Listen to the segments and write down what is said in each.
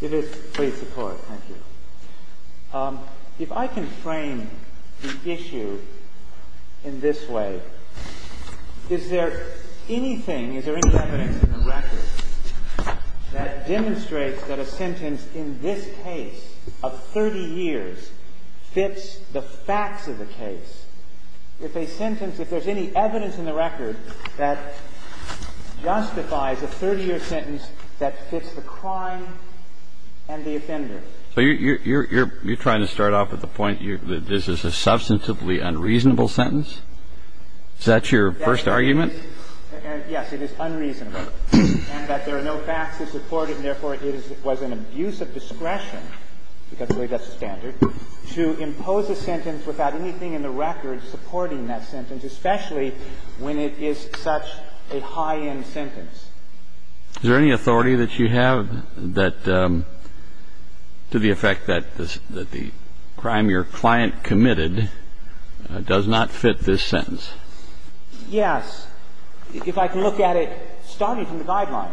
If I can frame the issue in this way, is there anything, is there any evidence in the record that demonstrates that a sentence in this case of 30 years fits the facts of the case? If a sentence, if there's any evidence in the record that justifies a 30-year sentence that fits the crime and the offender. Kennedy So you're trying to start off with the point that this is a substantively unreasonable sentence? Is that your first argument? Lepez-Alvarez Yes, it is unreasonable, and that there are no facts to support it, and therefore it was an abuse of discretion, because really that's the standard, to impose a sentence without anything in the record supporting that sentence, especially when it is such a high-end sentence. Kennedy Is there any authority that you have that, to the effect that the crime your client committed does not fit this sentence? Lepez-Alvarez Yes. If I can look at it starting from the guidelines,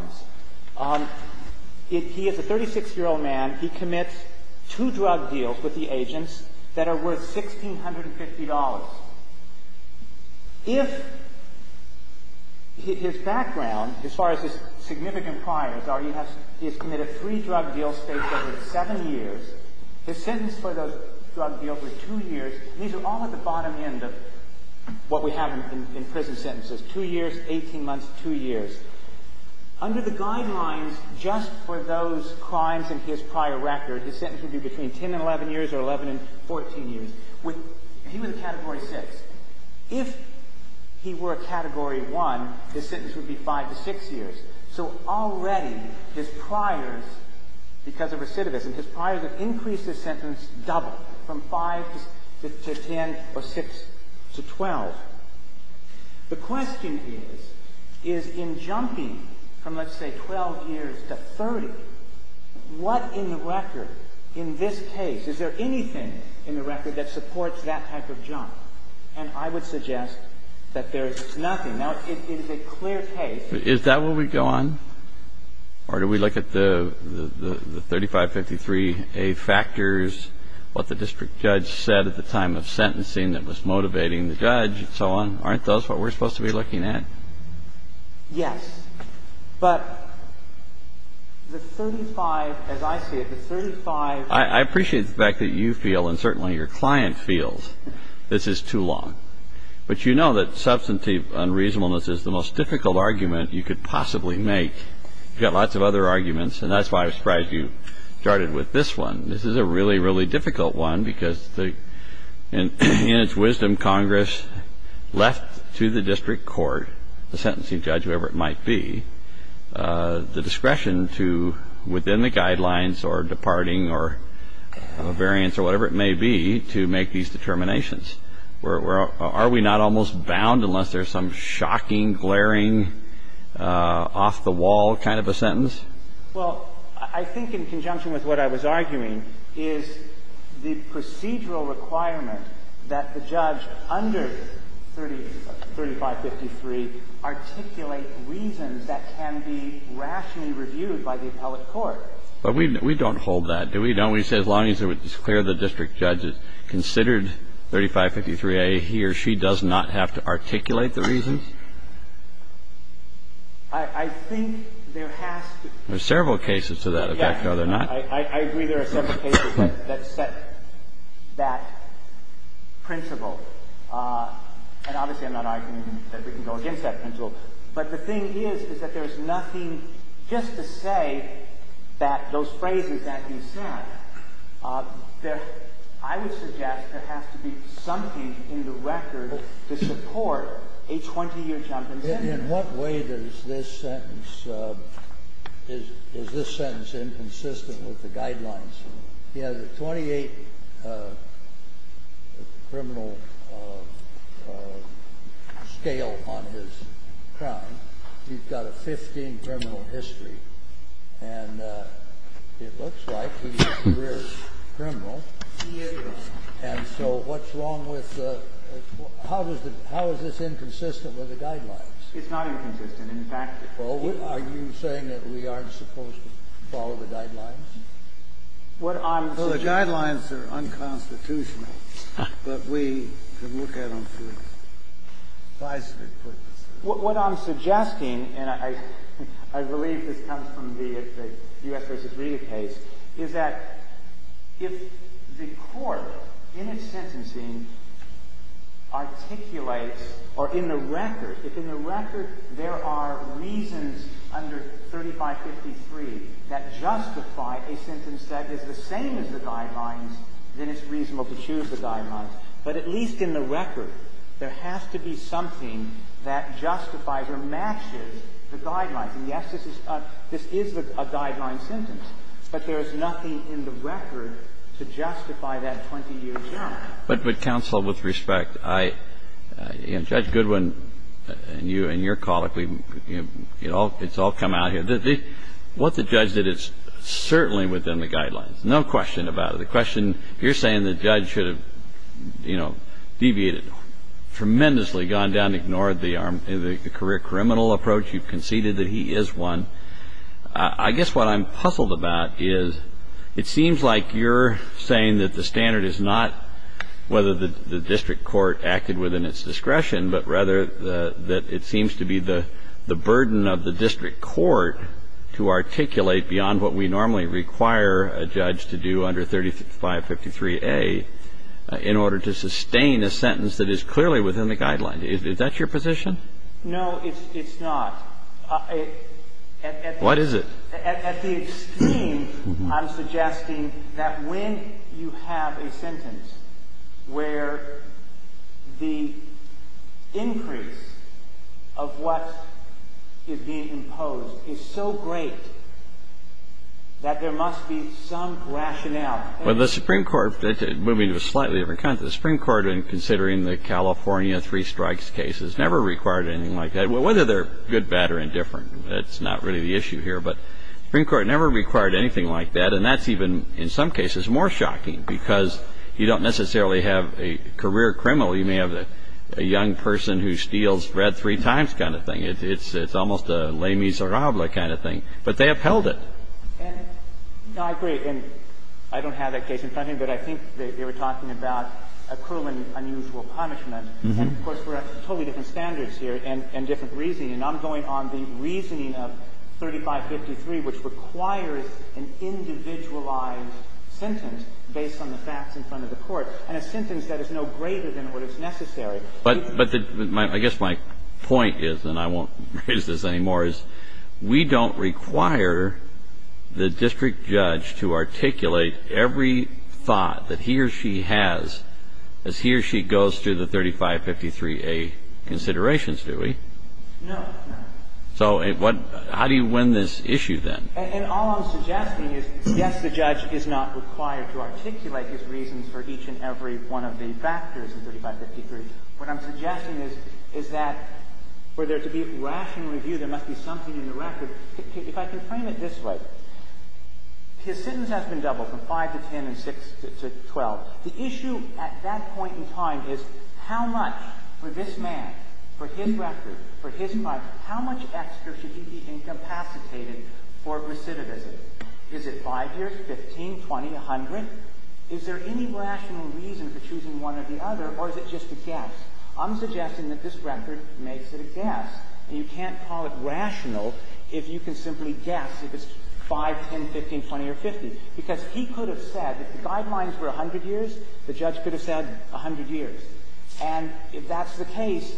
he is a 36-year-old man. He commits two drug deals with the agents that are worth $1,650. If his background, as far as his significant priors are, he has committed three drug deals spaced over 7 years. His sentence for those drug deals were 2 years. These are all at the bottom end of what we have in prison sentences, 2 years, 18 months, 2 years. Under the guidelines, just for those crimes in his prior record, his sentence would be between 10 and 11 years or 11 and 14 years. He was a Category 6. If he were a Category 1, his sentence would be 5 to 6 years. So already his priors, because of recidivism, his priors have increased his sentence double, from 5 to 10 or 6 to 12. The question is, is in jumping from, let's say, 12 years to 30, what in the record in this case, is there anything in the record that supports that type of jump? And I would suggest that there is nothing. Now, it is a clear case. Kennedy Is that where we go on? Or do we look at the 3553a factors, what the district judge said at the time of sentencing that was motivating the judge and so on? Aren't those what we're supposed to be looking at? Yes, but the 35, as I see it, the 35 I appreciate the fact that you feel, and certainly your client feels, this is too long. But you know that substantive unreasonableness is the most difficult argument you could possibly make. You've got lots of other arguments, and that's why I'm surprised you started with this one. This is a really, really difficult one, because in its wisdom, Congress left to the district court, the sentencing judge, whoever it might be, the discretion to, within the guidelines or departing or variance or whatever it may be, to make these determinations. Are we not almost bound unless there's some shocking, glaring, off-the-wall kind of a sentence? Well, I think in conjunction with what I was arguing is the procedural requirement that the judge under 3553 articulate reasons that can be rationally reviewed by the appellate court. But we don't hold that, do we? Don't we say, as long as it's clear the district judge has considered 3553a here, she does not have to articulate the reasons? I think there has to be. There are several cases to that effect, are there not? Yes. I agree there are several cases that set that principle. And obviously, I'm not arguing that we can go against that principle. But the thing is, is that there is nothing just to say that those phrases can't be said. I would suggest there has to be something in the record to support a 20-year jump in sentence. In what way does this sentence, is this sentence inconsistent with the guidelines? He has a 28 criminal scale on his crown. He's got a 15 criminal history. And it looks like he's a career criminal. He is. And so what's wrong with the – how is this inconsistent with the guidelines? It's not inconsistent. In fact, it is. Well, are you saying that we aren't supposed to follow the guidelines? What I'm suggesting – Well, the guidelines are unconstitutional, but we can look at them for decisive purposes. What I'm suggesting, and I believe this comes from the U.S. v. Rita case, is that if the court in its sentencing articulates or in the record, if in the record there are reasons under 3553 that justify a sentence that is the same as the guidelines, then it's reasonable to choose the guidelines. But at least in the record, there has to be something that justifies or matches the guidelines. And, yes, this is a guideline sentence. But there is nothing in the record to justify that 20-year jump. But, Counsel, with respect, I – you know, Judge Goodwin and you and your colleague, it's all come out here. What the judge did is certainly within the guidelines. No question about it. The question – you're saying the judge should have, you know, deviated tremendously, gone down, ignored the career criminal approach. You've conceded that he is one. I guess what I'm puzzled about is it seems like you're saying that the standard is not whether the district court acted within its discretion, but rather that it seems to be the burden of the district court to articulate beyond what we normally require a judge to do under 3553A in order to sustain a sentence that is clearly within the guidelines. Is that your position? No, it's not. What is it? At the extreme, I'm suggesting that when you have a sentence where the increase of what is being imposed is so great that there must be some rationale. Well, the Supreme Court – moving to a slightly different context. The Supreme Court, in considering the California three strikes cases, never required anything like that. Whether they're good, bad, or indifferent, that's not really the issue here. But the Supreme Court never required anything like that, and that's even, in some cases, more shocking because you don't necessarily have a career criminal. You may have a young person who steals bread three times kind of thing. It's almost a Les Miserables kind of thing. But they upheld it. No, I agree. And I don't have that case in front of me, but I think they were talking about a cruel and unusual punishment. And, of course, we're at totally different standards here and different reasoning. And I'm going on the reasoning of 3553, which requires an individualized sentence based on the facts in front of the court, and a sentence that is no greater than what is necessary. But the – I guess my point is, and I won't raise this anymore, is we don't require the district judge to articulate every thought that he or she has as he or she goes through the 3553A considerations, do we? No. So how do you win this issue, then? And all I'm suggesting is, yes, the judge is not required to articulate his reasons for each and every one of the factors in 3553. What I'm suggesting is that for there to be rational review, there must be something in the record. If I can frame it this way, his sentence has been doubled from 5 to 10 and 6 to 12. The issue at that point in time is how much for this man, for his record, for his record, how much extra should he be incapacitated for recidivism? Is it 5 years, 15, 20, 100? Is there any rational reason for choosing one or the other, or is it just a guess? I'm suggesting that this record makes it a guess, and you can't call it rational if you can simply guess if it's 5, 10, 15, 20, or 50, because he could have said if the guidelines were 100 years, the judge could have said 100 years. And if that's the case,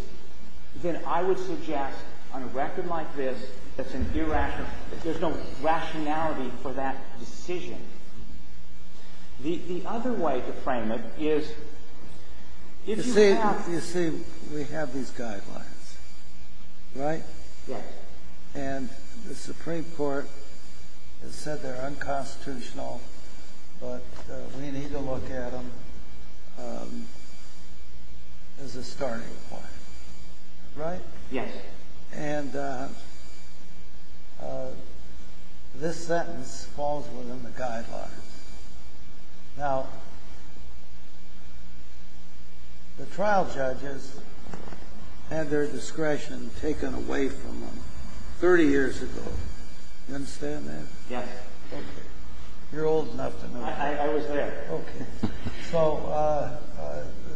then I would suggest on a record like this that's an irrational There's no rationality for that decision. The other way to frame it is if you have You see, we have these guidelines, right? Yes. And the Supreme Court has said they're unconstitutional, but we need to look at them as a starting point, right? Yes. And this sentence falls within the guidelines. Now, the trial judges had their discretion taken away from them 30 years ago. You understand that? Yes. Okay. You're old enough to know that. I was there. Okay. So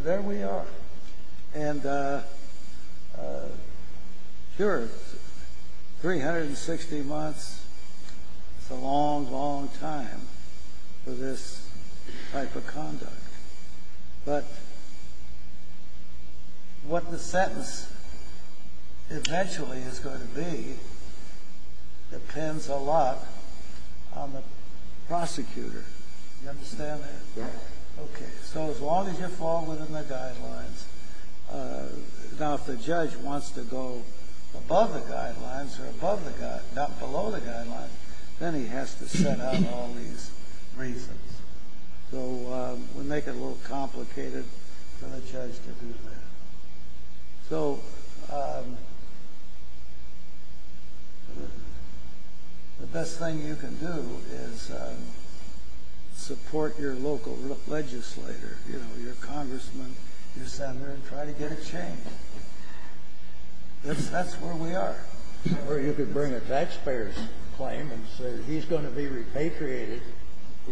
there we are. And here are 360 months. It's a long, long time for this type of conduct. But what the sentence eventually is going to be depends a lot on the prosecutor. You understand that? Yes. Okay. So as long as you fall within the guidelines. Now, if the judge wants to go above the guidelines or below the guidelines, then he has to set out all these reasons. So we make it a little complicated for the judge to do that. So the best thing you can do is support your local legislator, your congressman, your senator, and try to get it changed. That's where we are. Or you could bring a taxpayer's claim and say, he's going to be repatriated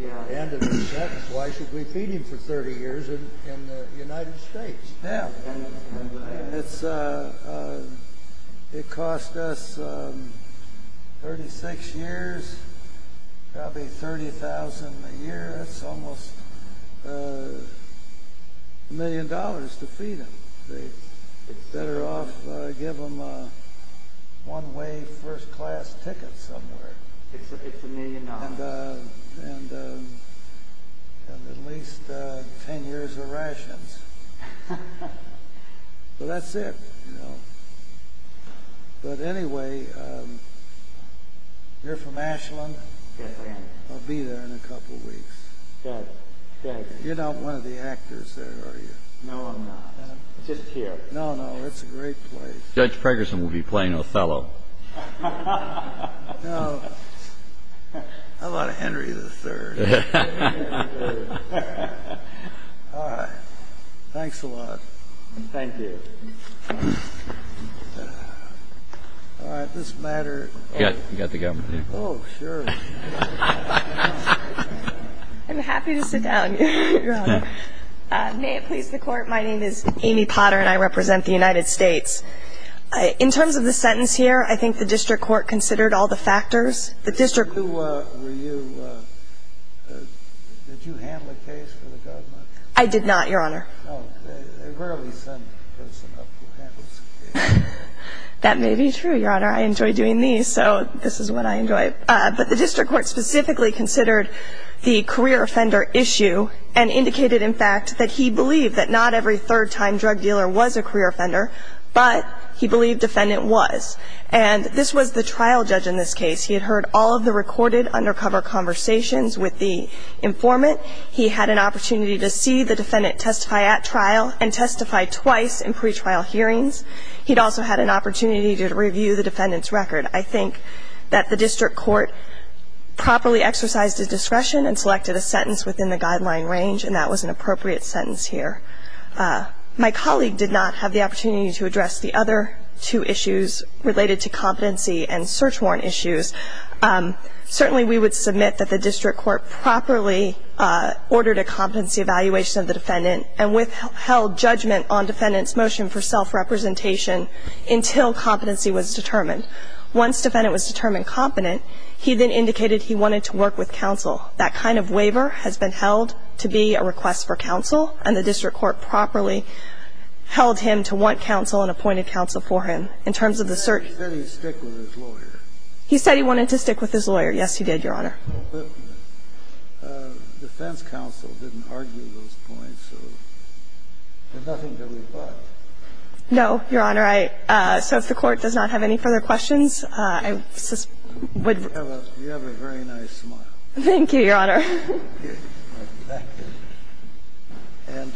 at the end of his sentence. Why should we feed him for 30 years in the United States? Yeah. It cost us 36 years, probably $30,000 a year. That's almost a million dollars to feed him. Better off give him a one-way first-class ticket somewhere. It's a million dollars. And at least 10 years of rations. So that's it. But anyway, you're from Ashland? Yes, I am. I'll be there in a couple weeks. Good. You're not one of the actors there, are you? No, I'm not. Just here. No, no, it's a great place. Judge Preggerson will be playing Othello. No. How about Henry III? All right. Thanks a lot. Thank you. All right. This matter. You've got the government here. Oh, sure. I'm happy to sit down, Your Honor. May it please the Court, my name is Amy Potter, and I represent the United States. In terms of the sentence here, I think the district court considered all the factors. Did you handle a case for the government? I did not, Your Honor. They rarely send a person up who handles a case. That may be true, Your Honor. I enjoy doing these, so this is what I enjoy. But the district court specifically considered the career offender issue and indicated in fact that he believed that not every third-time drug dealer was a career offender, but he believed defendant was. And this was the trial judge in this case. He had heard all of the recorded undercover conversations with the informant. He had an opportunity to see the defendant testify at trial and testify twice in pretrial hearings. He'd also had an opportunity to review the defendant's record. I think that the district court properly exercised his discretion and selected a sentence within the guideline range, and that was an appropriate sentence here. My colleague did not have the opportunity to address the other two issues related to competency and search warrant issues. Certainly we would submit that the district court properly ordered a competency evaluation of the defendant and withheld judgment on defendant's motion for self-representation until competency was determined. Once defendant was determined competent, he then indicated he wanted to work with counsel. That kind of waiver has been held to be a request for counsel, and the district court properly held him to want counsel and appointed counsel for him. In terms of the search ---- He said he'd stick with his lawyer. He said he wanted to stick with his lawyer. Yes, he did, Your Honor. The defense counsel didn't argue those points, so there's nothing to rebut. No, Your Honor. So if the Court does not have any further questions, I would ---- You have a very nice smile. Thank you, Your Honor. Thank you.